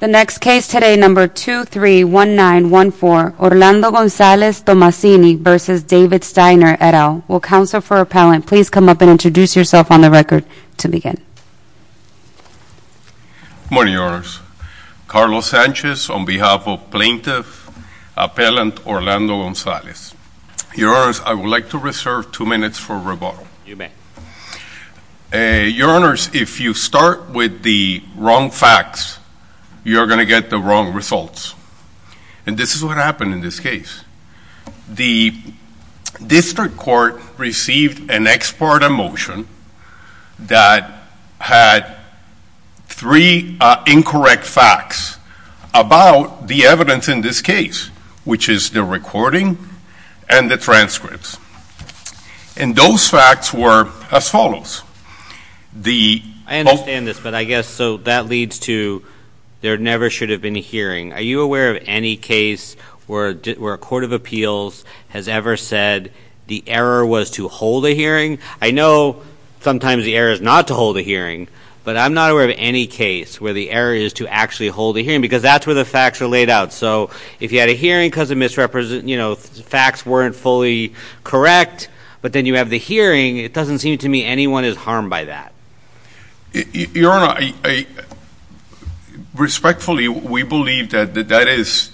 The next case today, number 231914, Orlando Gonzalez Tomasini v. David Steiner, et al. Will counsel for appellant please come up and introduce yourself on the record to begin. Good morning, your honors. Carlos Sanchez on behalf of plaintiff appellant Orlando Gonzalez. Your honors, I would like to reserve two minutes for rebuttal. You may. Your honors, if you start with the wrong facts, you're going to get the wrong results. And this is what happened in this case. The district court received an ex parte motion that had three incorrect facts about the evidence in this case, which is the recording and the transcripts. And those facts were as follows. The- I understand this, but I guess so that leads to there never should have been a hearing. Are you aware of any case where a court of appeals has ever said the error was to hold a hearing? I know sometimes the error is not to hold a hearing, but I'm not aware of any case where the error is to actually hold a hearing. Because that's where the facts are laid out. So if you had a hearing because the facts weren't fully correct, but then you have the hearing, it doesn't seem to me anyone is harmed by that. Your honor, respectfully we believe that that is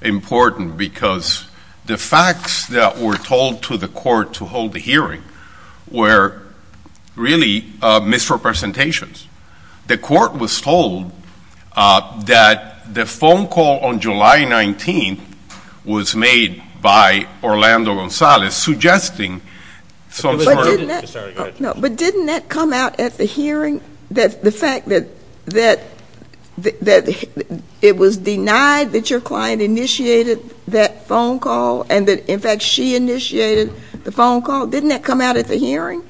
important because the facts that were told to the court to hold the hearing were really misrepresentations. The court was told that the phone call on July 19th was made by Orlando Gonzalez, suggesting some sort of- But didn't that come out at the hearing? That the fact that it was denied that your client initiated that phone call, and that in fact she initiated the phone call, didn't that come out at the hearing?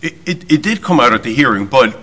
It did come out at the hearing, but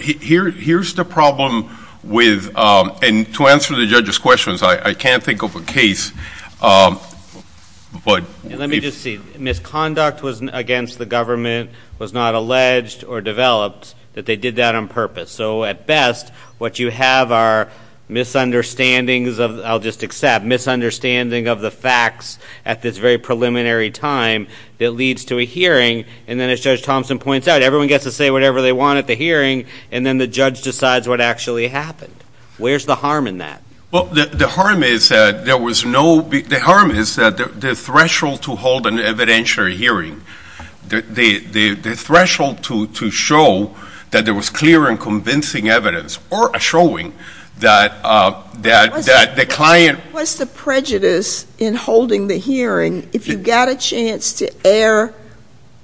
here's the problem with, and to answer the judge's questions, I can't think of a case, but- Let me just see. Misconduct against the government was not alleged or developed, that they did that on purpose. So at best, what you have are misunderstandings of, I'll just accept, misunderstanding of the facts at this very preliminary time that leads to a hearing. And then as Judge Thompson points out, everyone gets to say whatever they want at the hearing, and then the judge decides what actually happened. Where's the harm in that? Well, the harm is that there was no, the harm is that the threshold to hold an evidentiary hearing, the threshold to show that there was clear and convincing evidence, or a showing that the client- What's the prejudice in holding the hearing if you've got a chance to air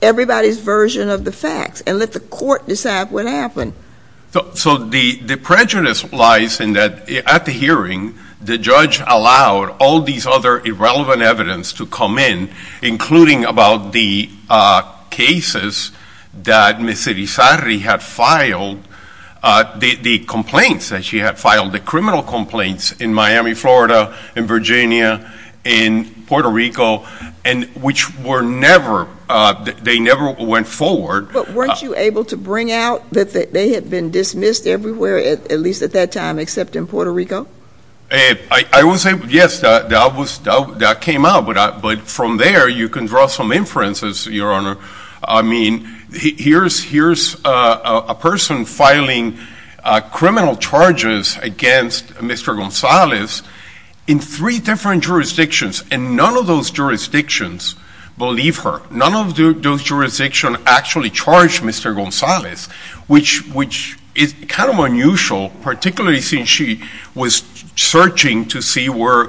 everybody's version of the facts and let the court decide what happened? So the prejudice lies in that at the hearing, the judge allowed all these other irrelevant evidence to come in, including about the cases that Ms. Sarri had filed, the complaints that she had filed, the criminal complaints in Miami, Florida, in Virginia, in Puerto Rico, and which were never, they never went forward. But weren't you able to bring out that they had been dismissed everywhere, at least at that time, except in Puerto Rico? I will say, yes, that came out, but from there, you can draw some inferences, Your Honor. I mean, here's a person filing criminal charges against Mr. Gonzalez in three different jurisdictions, and none of those jurisdictions, believe her, none of those jurisdictions actually charged Mr. Gonzalez, which is kind of unusual, particularly since she was searching to see where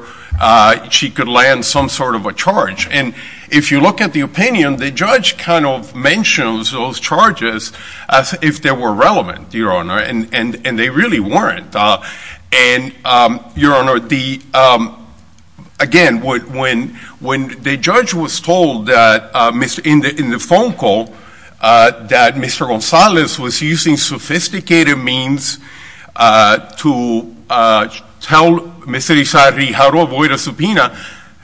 she could land some sort of a charge. And if you look at the opinion, the judge kind of mentions those charges as if they were relevant, Your Honor, and they really weren't. And Your Honor, again, when the judge was told in the phone call that Mr. Gonzalez was using sophisticated means to tell Mr. Isari how to avoid a subpoena,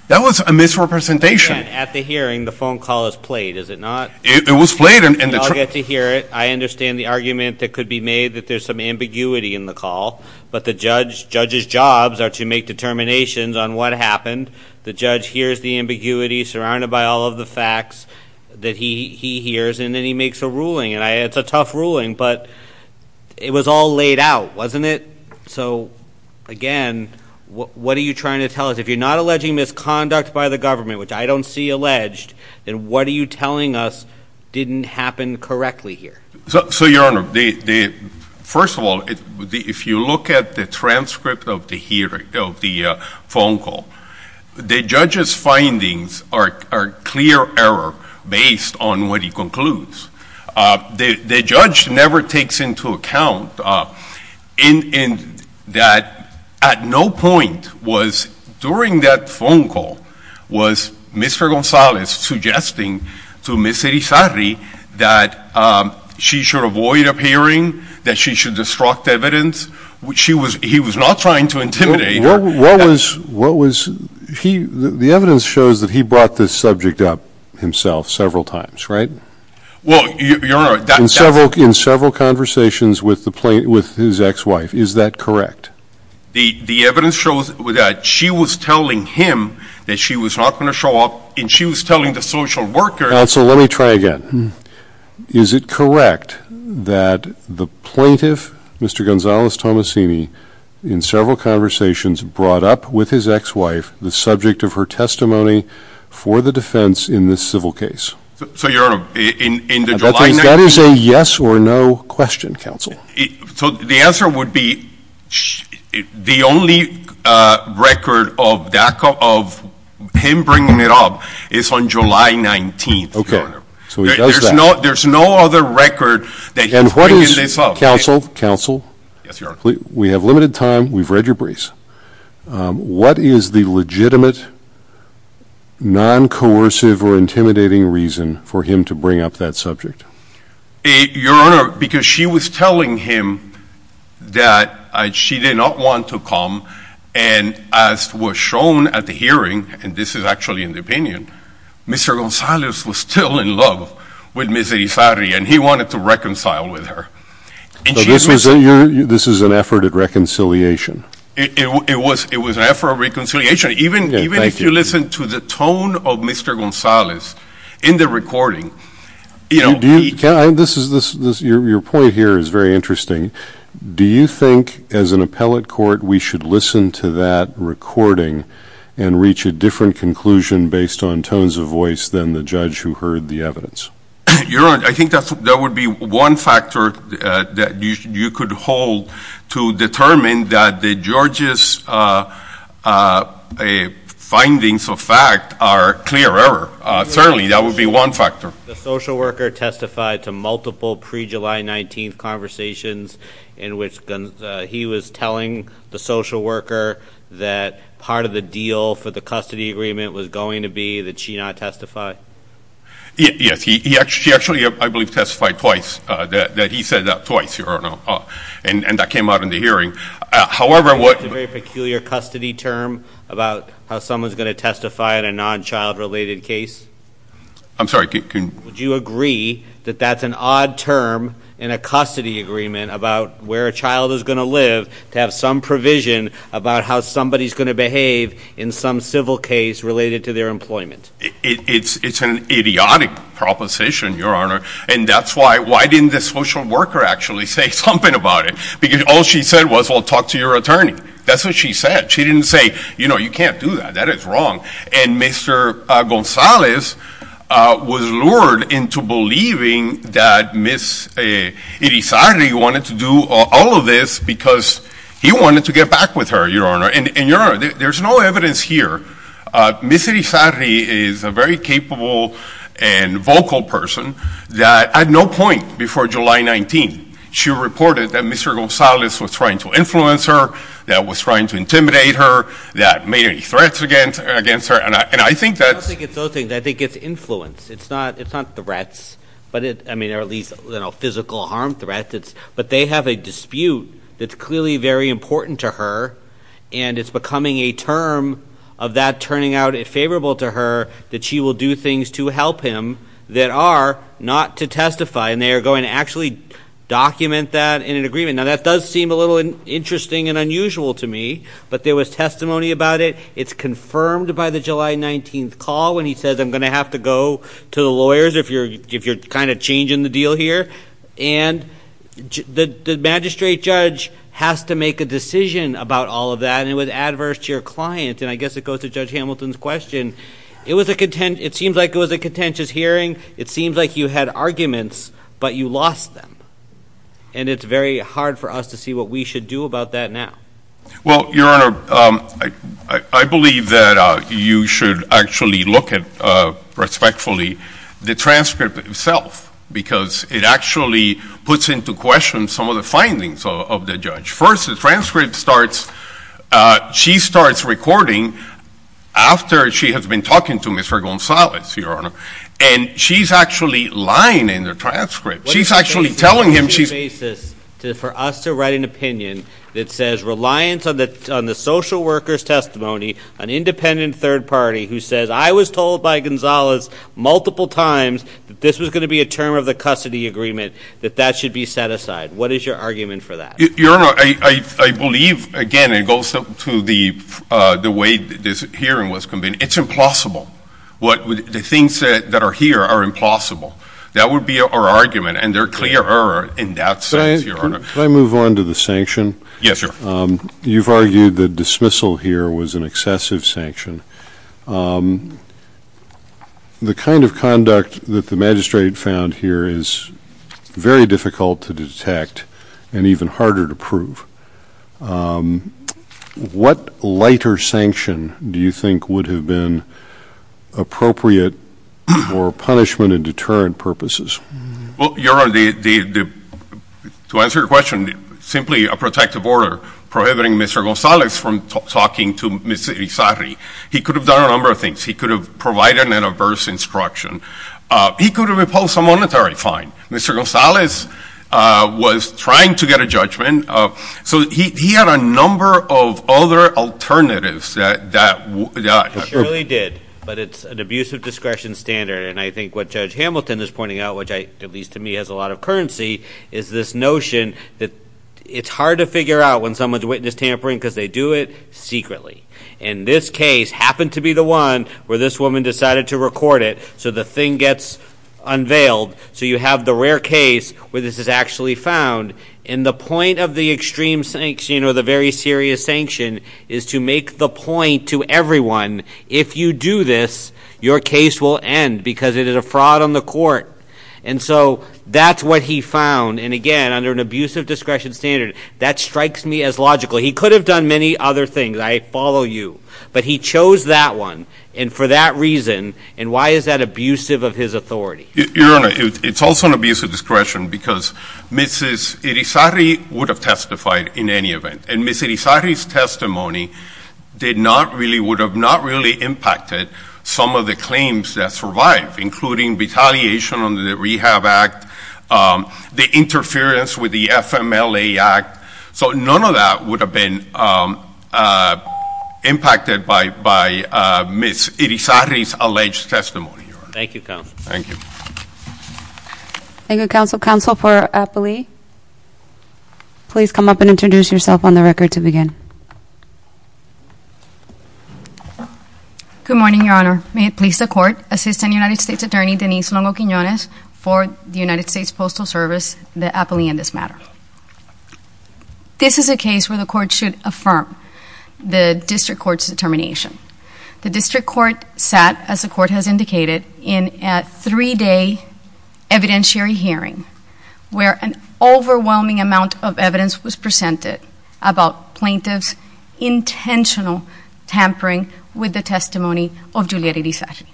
that was a misrepresentation. At the hearing, the phone call is played, is it not? It was played and- We all get to hear it. I understand the argument that could be made that there's some ambiguity in the call. But the judge's jobs are to make determinations on what happened. The judge hears the ambiguity surrounded by all of the facts that he hears, and then he makes a ruling. And it's a tough ruling, but it was all laid out, wasn't it? So again, what are you trying to tell us? If you're not alleging misconduct by the government, which I don't see alleged, then what are you telling us didn't happen correctly here? So, Your Honor, first of all, if you look at the transcript of the phone call, the judge's findings are clear error based on what he concludes. The judge never takes into account that at no point was, during that phone call, was Mr. Gonzalez suggesting to Ms. Isari that she should avoid appearing, that she should destruct evidence. He was not trying to intimidate her. The evidence shows that he brought this subject up himself several times, right? Well, Your Honor, that's- In several conversations with his ex-wife, is that correct? The evidence shows that she was telling him that she was not going to show up, and she was telling the social worker- Counsel, let me try again. Is it correct that the plaintiff, Mr. Gonzalez-Tomasini, in several conversations brought up with his ex-wife the subject of her testimony for the defense in this civil case? So, Your Honor, in the July- That is a yes or no question, Counsel. So, the answer would be the only record of him bringing it up is on July 19th, Your Honor. There's no other record that he's bringing this up. Counsel, we have limited time. We've read your briefs. What is the legitimate, non-coercive, or intimidating reason for him to bring up that subject? Your Honor, because she was telling him that she did not want to come, and as was shown at the hearing, and this is actually in the opinion, Mr. Gonzalez was still in love with Ms. Irizarry, and he wanted to reconcile with her. So, this is an effort at reconciliation? It was an effort of reconciliation. Even if you listen to the tone of Mr. Gonzalez in the recording- Your point here is very interesting. Do you think, as an appellate court, we should listen to that recording and reach a different conclusion based on tones of voice than the judge who heard the evidence? Your Honor, I think that would be one factor that you could hold to determine that the judge's findings of fact are clear error. Certainly, that would be one factor. The social worker testified to multiple pre-July 19th conversations in which he was telling the social worker that part of the deal for the custody agreement was going to be that she not testify. Yes, she actually, I believe, testified twice, that he said that twice, Your Honor, and that came out in the hearing. It's a very peculiar custody term about how someone's going to testify in a non-child related case? I'm sorry, can- Would you agree that that's an odd term in a custody agreement about where a child is going to live to have some provision about how somebody's going to behave in some civil case related to their employment? It's an idiotic proposition, Your Honor, and that's why- why didn't the social worker actually say something about it? Because all she said was, well, talk to your attorney. That's what she said. She didn't say, you know, you can't do that, that is wrong. And Mr. Gonzalez was lured into believing that Ms. Irisari wanted to do all of this because he wanted to get back with her, Your Honor. And, Your Honor, there's no evidence here. Ms. Irisari is a very capable and vocal person that at no point before July 19th, she reported that Mr. Gonzalez was trying to influence her, that was trying to intimidate her, that made any threats against her, and I think that's- I don't think it's those things. I think it's influence. It's not threats, or at least physical harm threats. But they have a dispute that's clearly very important to her and it's becoming a term of that turning out favorable to her that she will do things to help him that are not to testify. And they are going to actually document that in an agreement. Now, that does seem a little interesting and unusual to me, but there was testimony about it. It's confirmed by the July 19th call when he says, I'm going to have to go to the lawyers if you're kind of changing the deal here. And the magistrate judge has to make a decision about all of that, and it was adverse to your client. And I guess it goes to Judge Hamilton's question. It seems like it was a contentious hearing. It seems like you had arguments, but you lost them. And it's very hard for us to see what we should do about that now. Well, Your Honor, I believe that you should actually look at, respectfully, the transcript itself. Because it actually puts into question some of the findings of the judge. First, the transcript starts, she starts recording after she has been talking to Mr. Gonzalez, Your Honor. And she's actually lying in the transcript. She's actually telling him she's... What's the basis for us to write an opinion that says, reliance on the social worker's testimony, an independent third party who says, I was told by Gonzalez multiple times that this was going to be a term of the custody agreement, that that should be set aside. What is your argument for that? Your Honor, I believe, again, it goes to the way this hearing was convened, it's implausible. The things that are here are implausible. That would be our argument, and they're clearer in that sense, Your Honor. Can I move on to the sanction? Yes, Your Honor. You've argued that dismissal here was an excessive sanction. The kind of conduct that the magistrate found here is very difficult to detect and even harder to prove. What lighter sanction do you think would have been appropriate for punishment and deterrent purposes? Well, Your Honor, to answer your question, simply a protective order prohibiting Mr. Gonzalez from talking to Ms. Irizarry. He could have done a number of things. He could have provided an adverse instruction. He could have imposed a monetary fine. Mr. Gonzalez was trying to get a judgment, so he had a number of other alternatives that... He surely did, but it's an abuse of discretion standard, and I think what Judge Hamilton is pointing out, which, at least to me, has a lot of currency, is this notion that it's hard to figure out when someone's witness tampering because they do it secretly. And this case happened to be the one where this woman decided to record it, so the thing gets unveiled. So you have the rare case where this is actually found, and the point of the extreme sanction or the very serious sanction is to make the point to everyone, if you do this, your case will end because it is a fraud on the court. And so that's what he found, and again, under an abuse of discretion standard, that strikes me as logical. He could have done many other things. I follow you, but he chose that one, and for that reason, and why is that abusive of his authority? Your Honor, it's also an abuse of discretion because Ms. Irizarry would have testified in any event, and Ms. Irizarry's testimony did not really, would have not really impacted some of the claims that survived, including retaliation on the Rehab Act, the interference with the FMLA Act, so none of that would have been impacted by Ms. Irizarry's alleged testimony, Your Honor. Thank you, Counsel. Thank you. Thank you, Counsel. Counsel for Appoli, please come up and introduce yourself on the record to begin. Good morning, Your Honor. May it please the Court, Assistant United States Attorney Denise Longo-Quinones for the United States Postal Service, the Appoli in this matter. This is a case where the Court should affirm the District Court's determination. The District Court sat, as the Court has indicated, in a three-day evidentiary hearing where an overwhelming amount of evidence was presented about plaintiffs' intentional tampering with the testimony of Juliet Irizarry.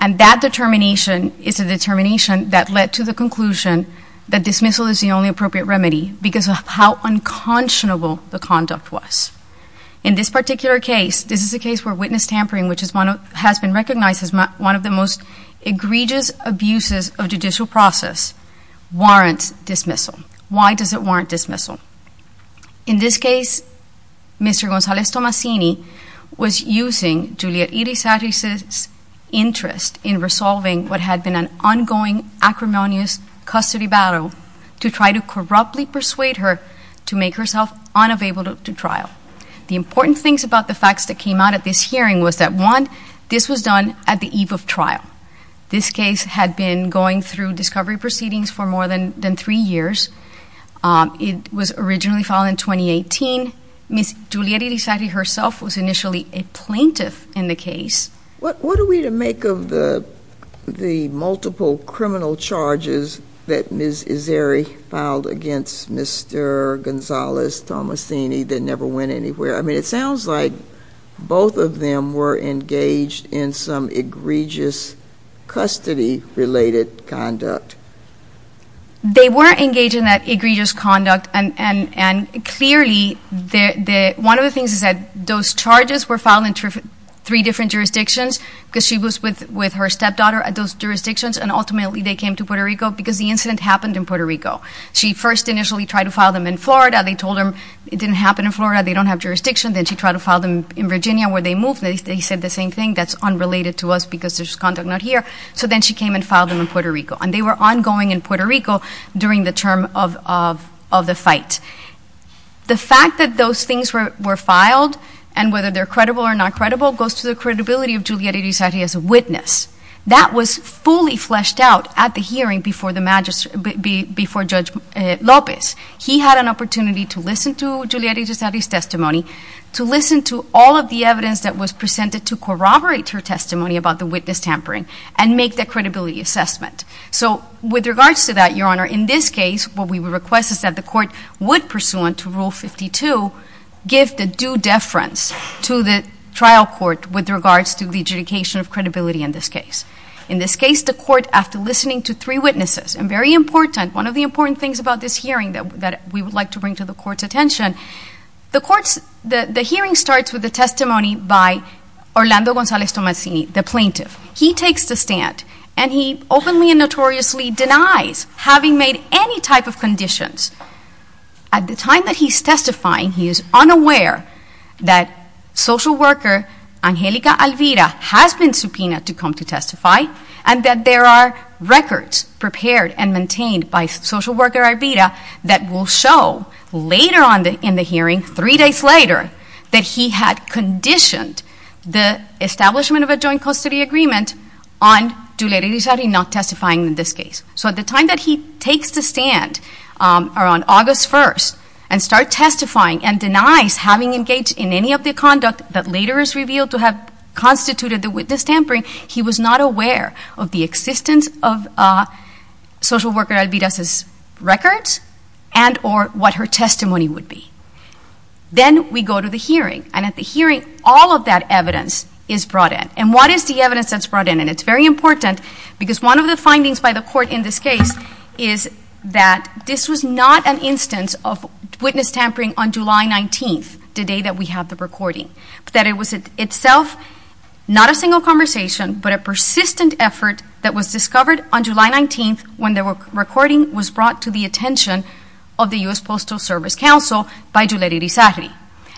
And that determination is a determination that led to the conclusion that dismissal is the only appropriate remedy because of how unconscionable the conduct was. In this particular case, this is a case where witness tampering, which has been recognized as one of the most egregious abuses of judicial process, warrants dismissal. Why does it warrant dismissal? In this case, Mr. Gonzalez-Tomasini was using Juliet Irizarry's interest in resolving what had been an ongoing acrimonious custody battle to try to corruptly persuade her to make herself unavailable to trial. The important things about the facts that came out at this hearing was that, one, this was done at the eve of trial. This case had been going through discovery proceedings for more than three years. It was originally filed in 2018. Ms. Juliet Irizarry herself was initially a plaintiff in the case. What are we to make of the multiple criminal charges that Ms. Irizarry filed against Mr. Gonzalez-Tomasini that never went anywhere? It sounds like both of them were engaged in some egregious custody related conduct. They were engaged in that egregious conduct and clearly one of the things is that those charges were filed in three different jurisdictions because she was with her stepdaughter at those jurisdictions and ultimately they came to Puerto Rico because the incident happened in Puerto Rico. She first initially tried to file them in Florida. They told them it didn't happen in Florida. They don't have jurisdiction. Then she tried to file them in Virginia where they moved. They said the same thing. That's unrelated to us because there's conduct not here. Then she came and filed them in Puerto Rico. They were ongoing in Puerto Rico during the term of the fight. The fact that those things were filed and whether they're credible or not credible goes to the credibility of Juliet Irizarry as a witness. That was fully fleshed out at the hearing before the magistrate before Judge Lopez. He had an opportunity to listen to Juliet Irizarry's testimony to listen to all of the evidence that was presented to corroborate her testimony about the witness tampering and make the credibility assessment. With regards to that, Your Honor, in this case what we request is that the court would pursuant to Rule 52 give the due deference to the trial court with regards to the adjudication of credibility in this case. In this case, the court, after listening to three witnesses, and very important one of the important things about this hearing that we would like to bring to the court's attention the hearing starts with the testimony by Orlando Gonzalez Tomassini, the plaintiff. He takes the stand and he openly and notoriously denies having made any type of At the time that he's testifying, he is unaware that social worker Angelica Alvira has been subpoenaed to come to testify and that there are records prepared and maintained by social worker Alvira that will show later on in the hearing, three days later, that he had conditioned the establishment of a joint custody agreement on not testifying in this case. So at the time that he takes the stand on August 1st and starts testifying and denies having engaged in any of the conduct that later is revealed to have constituted the witness tampering, he was not aware of the existence of social worker Alvira's records and or what her testimony would be. Then we go to the hearing and at the hearing, all of that evidence is brought in. And what is the evidence that's brought in? And it's very important because one of the findings by the court in this case is that this was not an instance of witness tampering on July 19th the day that we have the recording. That it was itself not a single conversation, but a persistent effort that was discovered on July 19th when the recording was brought to the attention of the U.S. Postal Service Counsel by Juliet Irizarri.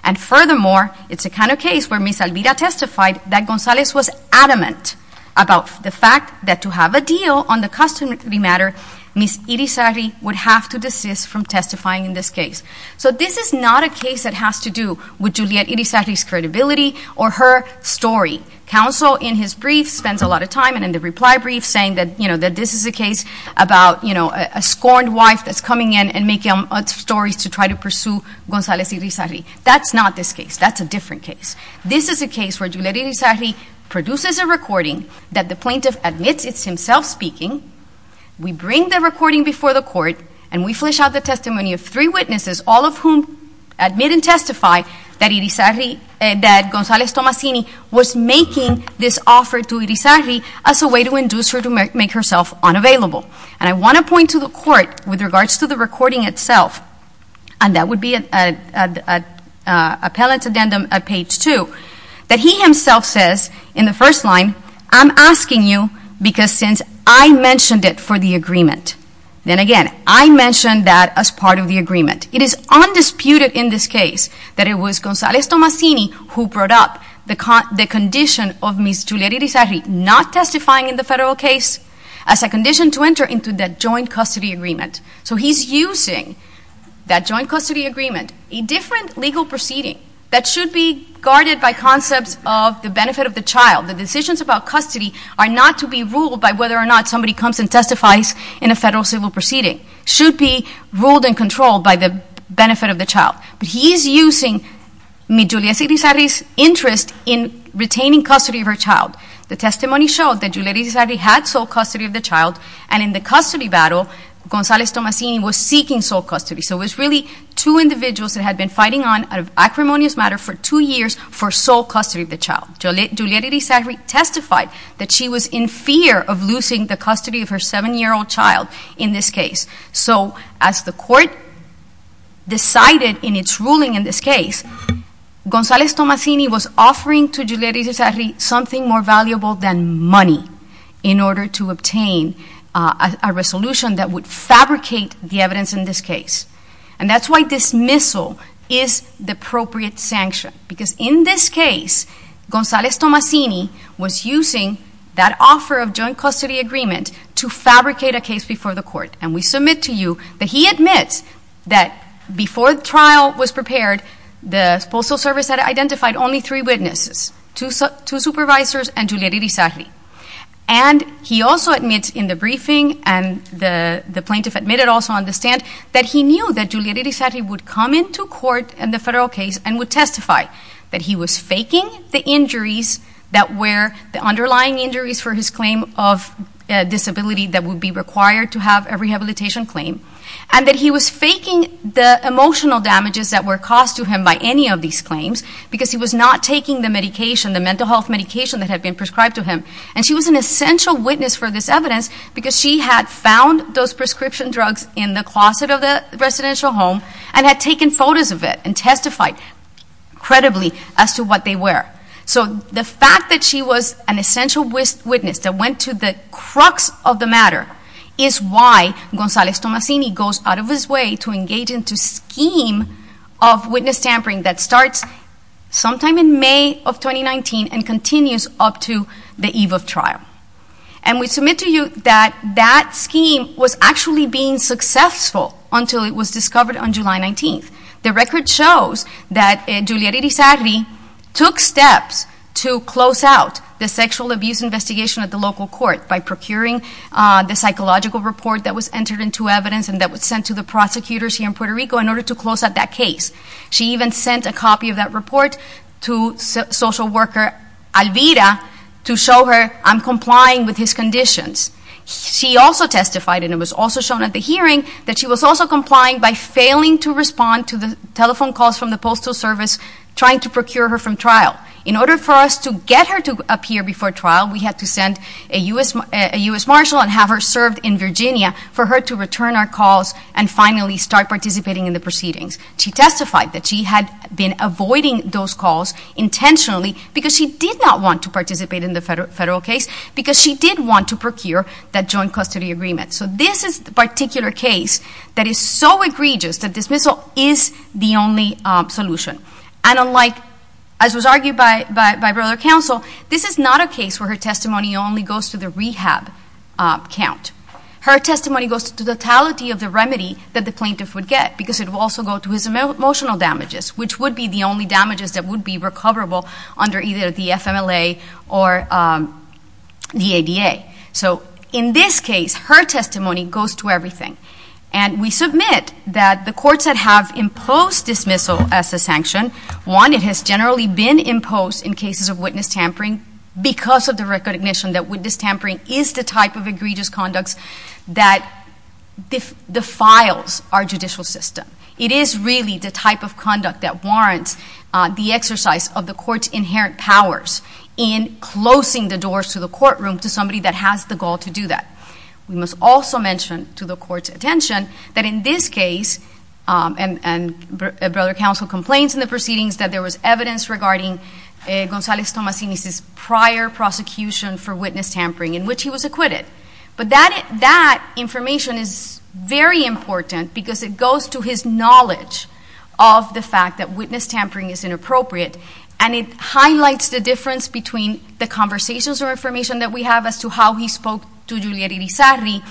And furthermore it's a kind of case where Ms. Alvira testified that Gonzalez was adamant about the fact that to have a deal on the custody matter Ms. Irizarri would have to desist from testifying in this case. So this is not a case that has to do with Juliet Irizarri's credibility or her story. Counsel in his brief spends a lot of time and in the reply brief saying that this is a case about a scorned wife that's coming in and making up stories to try to pursue Gonzalez Irizarri. That's not this case. That's a different case. This is a case where Juliet Irizarri produces a recording that the plaintiff admits it's himself speaking we bring the recording before the court and we flesh out the testimony of three witnesses, all of whom admit and testify that Gonzalez Tomasini was making this offer to Irizarri as a way to induce her to make herself unavailable. And I want to point to the court with regards to the recording itself, and that would be an appellate addendum at page two that he himself says in the first line, I'm asking you because since I mentioned it for the agreement, then again I mentioned that as part of the agreement. It is undisputed in this case that it was Gonzalez Tomasini who brought up the condition of Ms. Juliet Irizarri not testifying in the federal case as a condition to enter into that joint custody agreement. So he's using that joint custody agreement, a different legal proceeding that should be guarded by concepts of the benefit of the child the decisions about custody are not to be ruled by whether or not somebody comes and testifies in a federal civil proceeding should be ruled and controlled by the benefit of the child. He's using Ms. Juliet Irizarri's interest in retaining custody of her child. The testimony showed that Ms. Juliet Irizarri had sole custody of the child and in the custody battle Gonzalez Tomasini was seeking sole custody so it was really two individuals that had been fighting on out of acrimonious matter for two years for sole custody of the child. Ms. Juliet Irizarri testified that she was in fear of losing the custody of her seven-year-old child in this case. So as the court decided in its ruling in this case Gonzalez Tomasini was offering to Juliet Irizarri something more valuable than money in order to obtain a resolution that would fabricate the evidence in this case and that's why dismissal is the appropriate sanction because in this case Gonzalez Tomasini was using that offer of joint custody agreement to fabricate a case before the court and we submit to you that he admits that before the trial was prepared the Postal Service had identified only three witnesses two supervisors and Juliet Irizarri and he also admits in the briefing and the plaintiff admitted also on the stand that he knew that Juliet Irizarri would come into court in the federal case and would testify that he was faking the injuries that were the underlying injuries for his claim of disability that would be required to have a rehabilitation claim and that he was faking the emotional damages that were caused to him by any of these claims because he was not taking the medication the mental health medication that had been prescribed to him and she was an essential witness for this evidence because she had found those prescription drugs in the closet of the residential home and had taken photos of it and testified credibly as to what they were so the fact that she was an essential witness that went to the crux of the matter is why Gonzalez Tomasini goes out of his way to engage into a scheme of witness tampering that starts sometime in May of 2019 and continues up to the eve of trial and we submit to you that that scheme was actually being successful until it was discovered on July 19th the record shows that Juliet Irizarri took steps to close out the sexual abuse investigation at the local court by procuring the psychological report that was entered into evidence and that was sent to the prosecutors here in Puerto Rico in order to close out that case she even sent a copy of that report to social worker Alvira to show her I'm complying with his conditions she also testified and it was also shown at the hearing that she was also complying by failing to respond to the telephone calls from the postal service trying to procure her from trial in order for us to get her to appear before trial we had to send a U.S. Marshal and have her served in Virginia for her to return our calls and finally start participating in the proceedings. She testified that she had been avoiding those calls intentionally because she did not want to participate in the federal case because she did want to procure that joint custody agreement so this is the particular case that is so egregious that dismissal is the only solution and unlike as was argued by brother counsel this is not a case where her testimony only goes to the rehab count. Her testimony goes to the totality of the remedy that the plaintiff would get because it would also go to his emotional damages which would be the only damages that would be recoverable under either the FMLA or the ADA so in this case her testimony goes to everything and we submit that the courts that have imposed dismissal as a sanction, one it has generally been imposed in cases of witness tampering because of the recognition that witness tampering is the type of egregious conduct that defiles our judicial system it is really the type of conduct that warrants the exercise of the courts inherent powers in closing the doors to the courtroom to somebody that has the goal to do that. We must also mention to the courts attention that in this case and brother counsel complains in the Gonzales Tomasini's prior prosecution for witness tampering in which he was acquitted but that information is very important because it goes to his knowledge of the fact that witness tampering is inappropriate and it highlights the difference between the conversations or information that we have as to how he spoke to Juliet Irizarry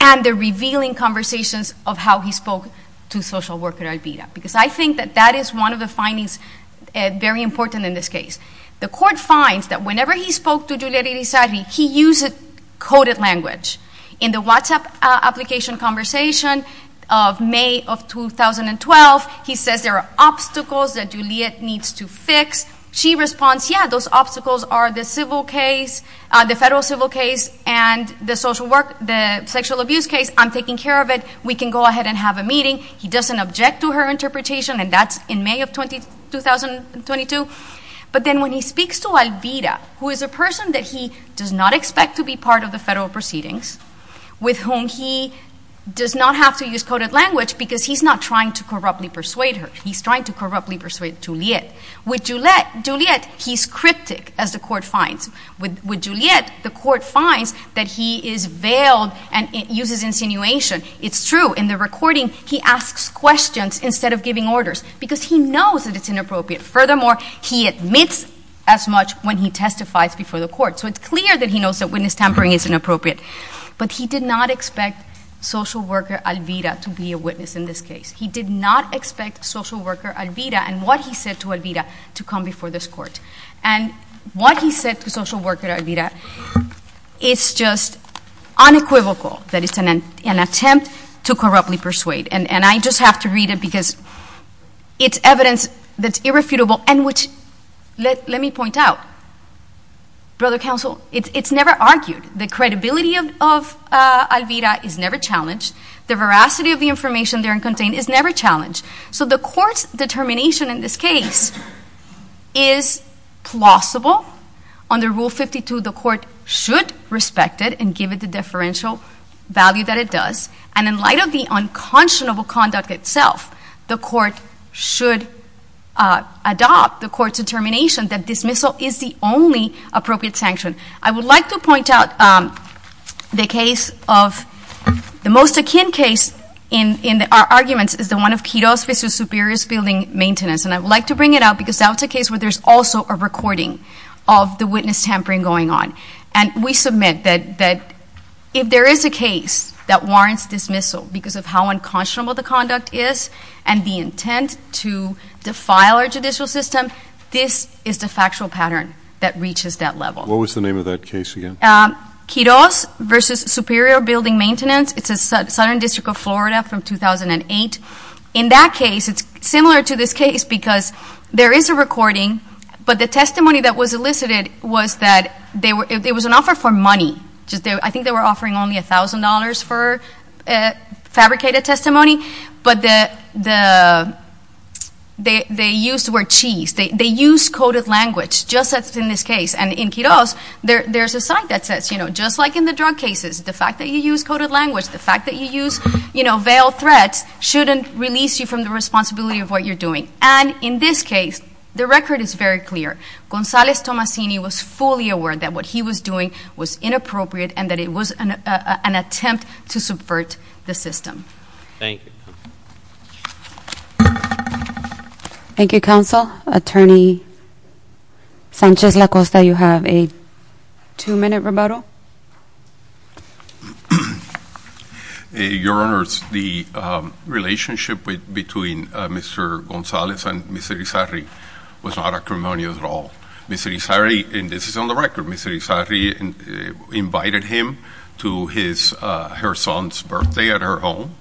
and the revealing conversations of how he spoke to social worker Alvira because I think that that is one of the things very important in this case. The court finds that whenever he spoke to Juliet Irizarry he used a coded language in the WhatsApp application conversation of May of 2012 he says there are obstacles that Juliet needs to fix. She responds yeah those obstacles are the civil case the federal civil case and the social work the sexual abuse case I'm taking care of it we can go ahead and have a meeting. He doesn't object to her interpretation and that's in May of 2022 but then when he speaks to Alvira who is a person that he does not expect to be part of the federal proceedings with whom he does not have to use coded language because he's not trying to corruptly persuade her he's trying to corruptly persuade Juliet with Juliet he's cryptic as the court finds with Juliet the court finds that he is veiled and uses insinuation it's true in the he asks questions instead of giving orders because he knows that it's inappropriate furthermore he admits as much when he testifies before the court so it's clear that he knows that witness tampering is inappropriate but he did not expect social worker Alvira to be a witness in this case he did not expect social worker Alvira and what he said to Alvira to come before this court and what he said to social worker Alvira is just unequivocal that it's an attempt to corruptly persuade and I just have to read it because it's evidence that's irrefutable and which let me point out brother counsel it's never argued the credibility of Alvira is never challenged the veracity of the information there contained is never challenged so the courts determination in this case is plausible under rule 52 the court should respect it and give it the value that it does and in light of the unconscionable conduct itself the court should adopt the court's determination that dismissal is the only appropriate sanction I would like to point out the case of the most akin case in our arguments is the one of Kidos versus Superiorist Building Maintenance and I would like to bring it out because that's a case where there's also a recording of the witness tampering going on and we submit that if there is a case that warrants dismissal because of how unconscionable the conduct is and the intent to defile our judicial system this is the factual pattern that reaches that level. What was the name of that case again? Kidos versus Superior Building Maintenance it's a southern district of Florida from 2008 in that case it's similar to this case because there is a recording but the testimony that was elicited was that it was an offer for money I think they were offering only a thousand dollars for fabricated testimony but the they used the word cheese they used coded language just as in this case and in Kidos there's a sign that says just like in the drug cases the fact that you use coded language the fact that you use veiled threats shouldn't release you from the responsibility of what you're doing and in this case the record is very clear Gonzales Tomasini was fully aware that what he was doing was inappropriate and that it was an attempt to subvert the system Thank you Thank you Counsel Attorney Sanchez LaCosta you have a two minute rebuttal Your Honors the relationship between Mr. Gonzales and Mr. Erizarri is very and this is on the record Mr. Erizarri invited him to her son's birthday at her home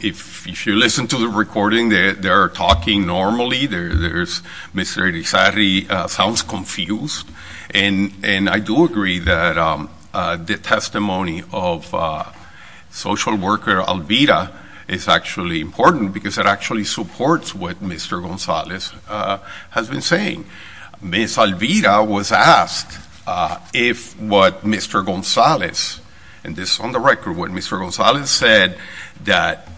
if you listen to the recording they are talking normally Mr. Erizarri sounds confused and I do agree that the testimony of social worker Alvira is actually important because it actually supports what Mr. Gonzales has been saying Ms. Alvira was asked if what Mr. Gonzales and this is on the record what Mr. Gonzales said that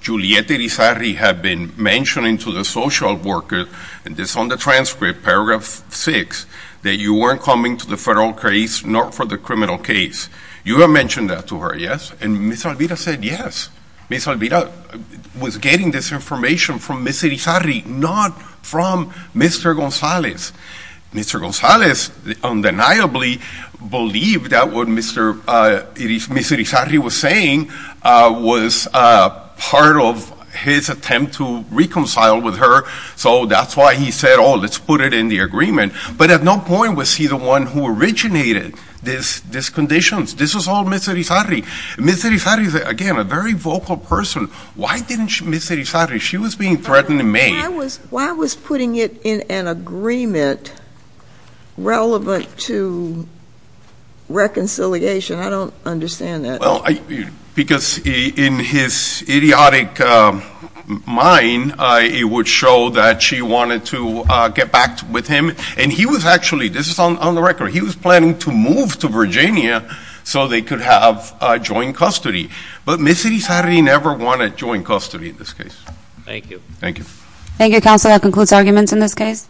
Julieta Erizarri had been mentioning to the social worker and this is on the transcript paragraph six that you weren't coming to the federal case nor for the criminal case. You had mentioned that to her yes? And Ms. Alvira said yes Ms. Alvira was getting this information from Ms. Erizarri not from Mr. Gonzales. Mr. Gonzales undeniably believed that what Mr. Ms. Erizarri was saying was part of his attempt to reconcile with her so that's why he said oh let's put it in the agreement but at no point was he the one who originated this conditions. This was all Ms. Erizarri Ms. Erizarri is again a very vocal person. Why didn't Ms. Erizarri, she was being threatened in May Why was putting it in an agreement relevant to reconciliation? I don't understand that Because in his idiotic mind it would show that she wanted to get back with him and he was actually, this is on the record he was planning to move to Virginia so they could have joint custody. But Ms. Erizarri never wanted joint custody in this case Thank you Thank you counsel that concludes arguments in this case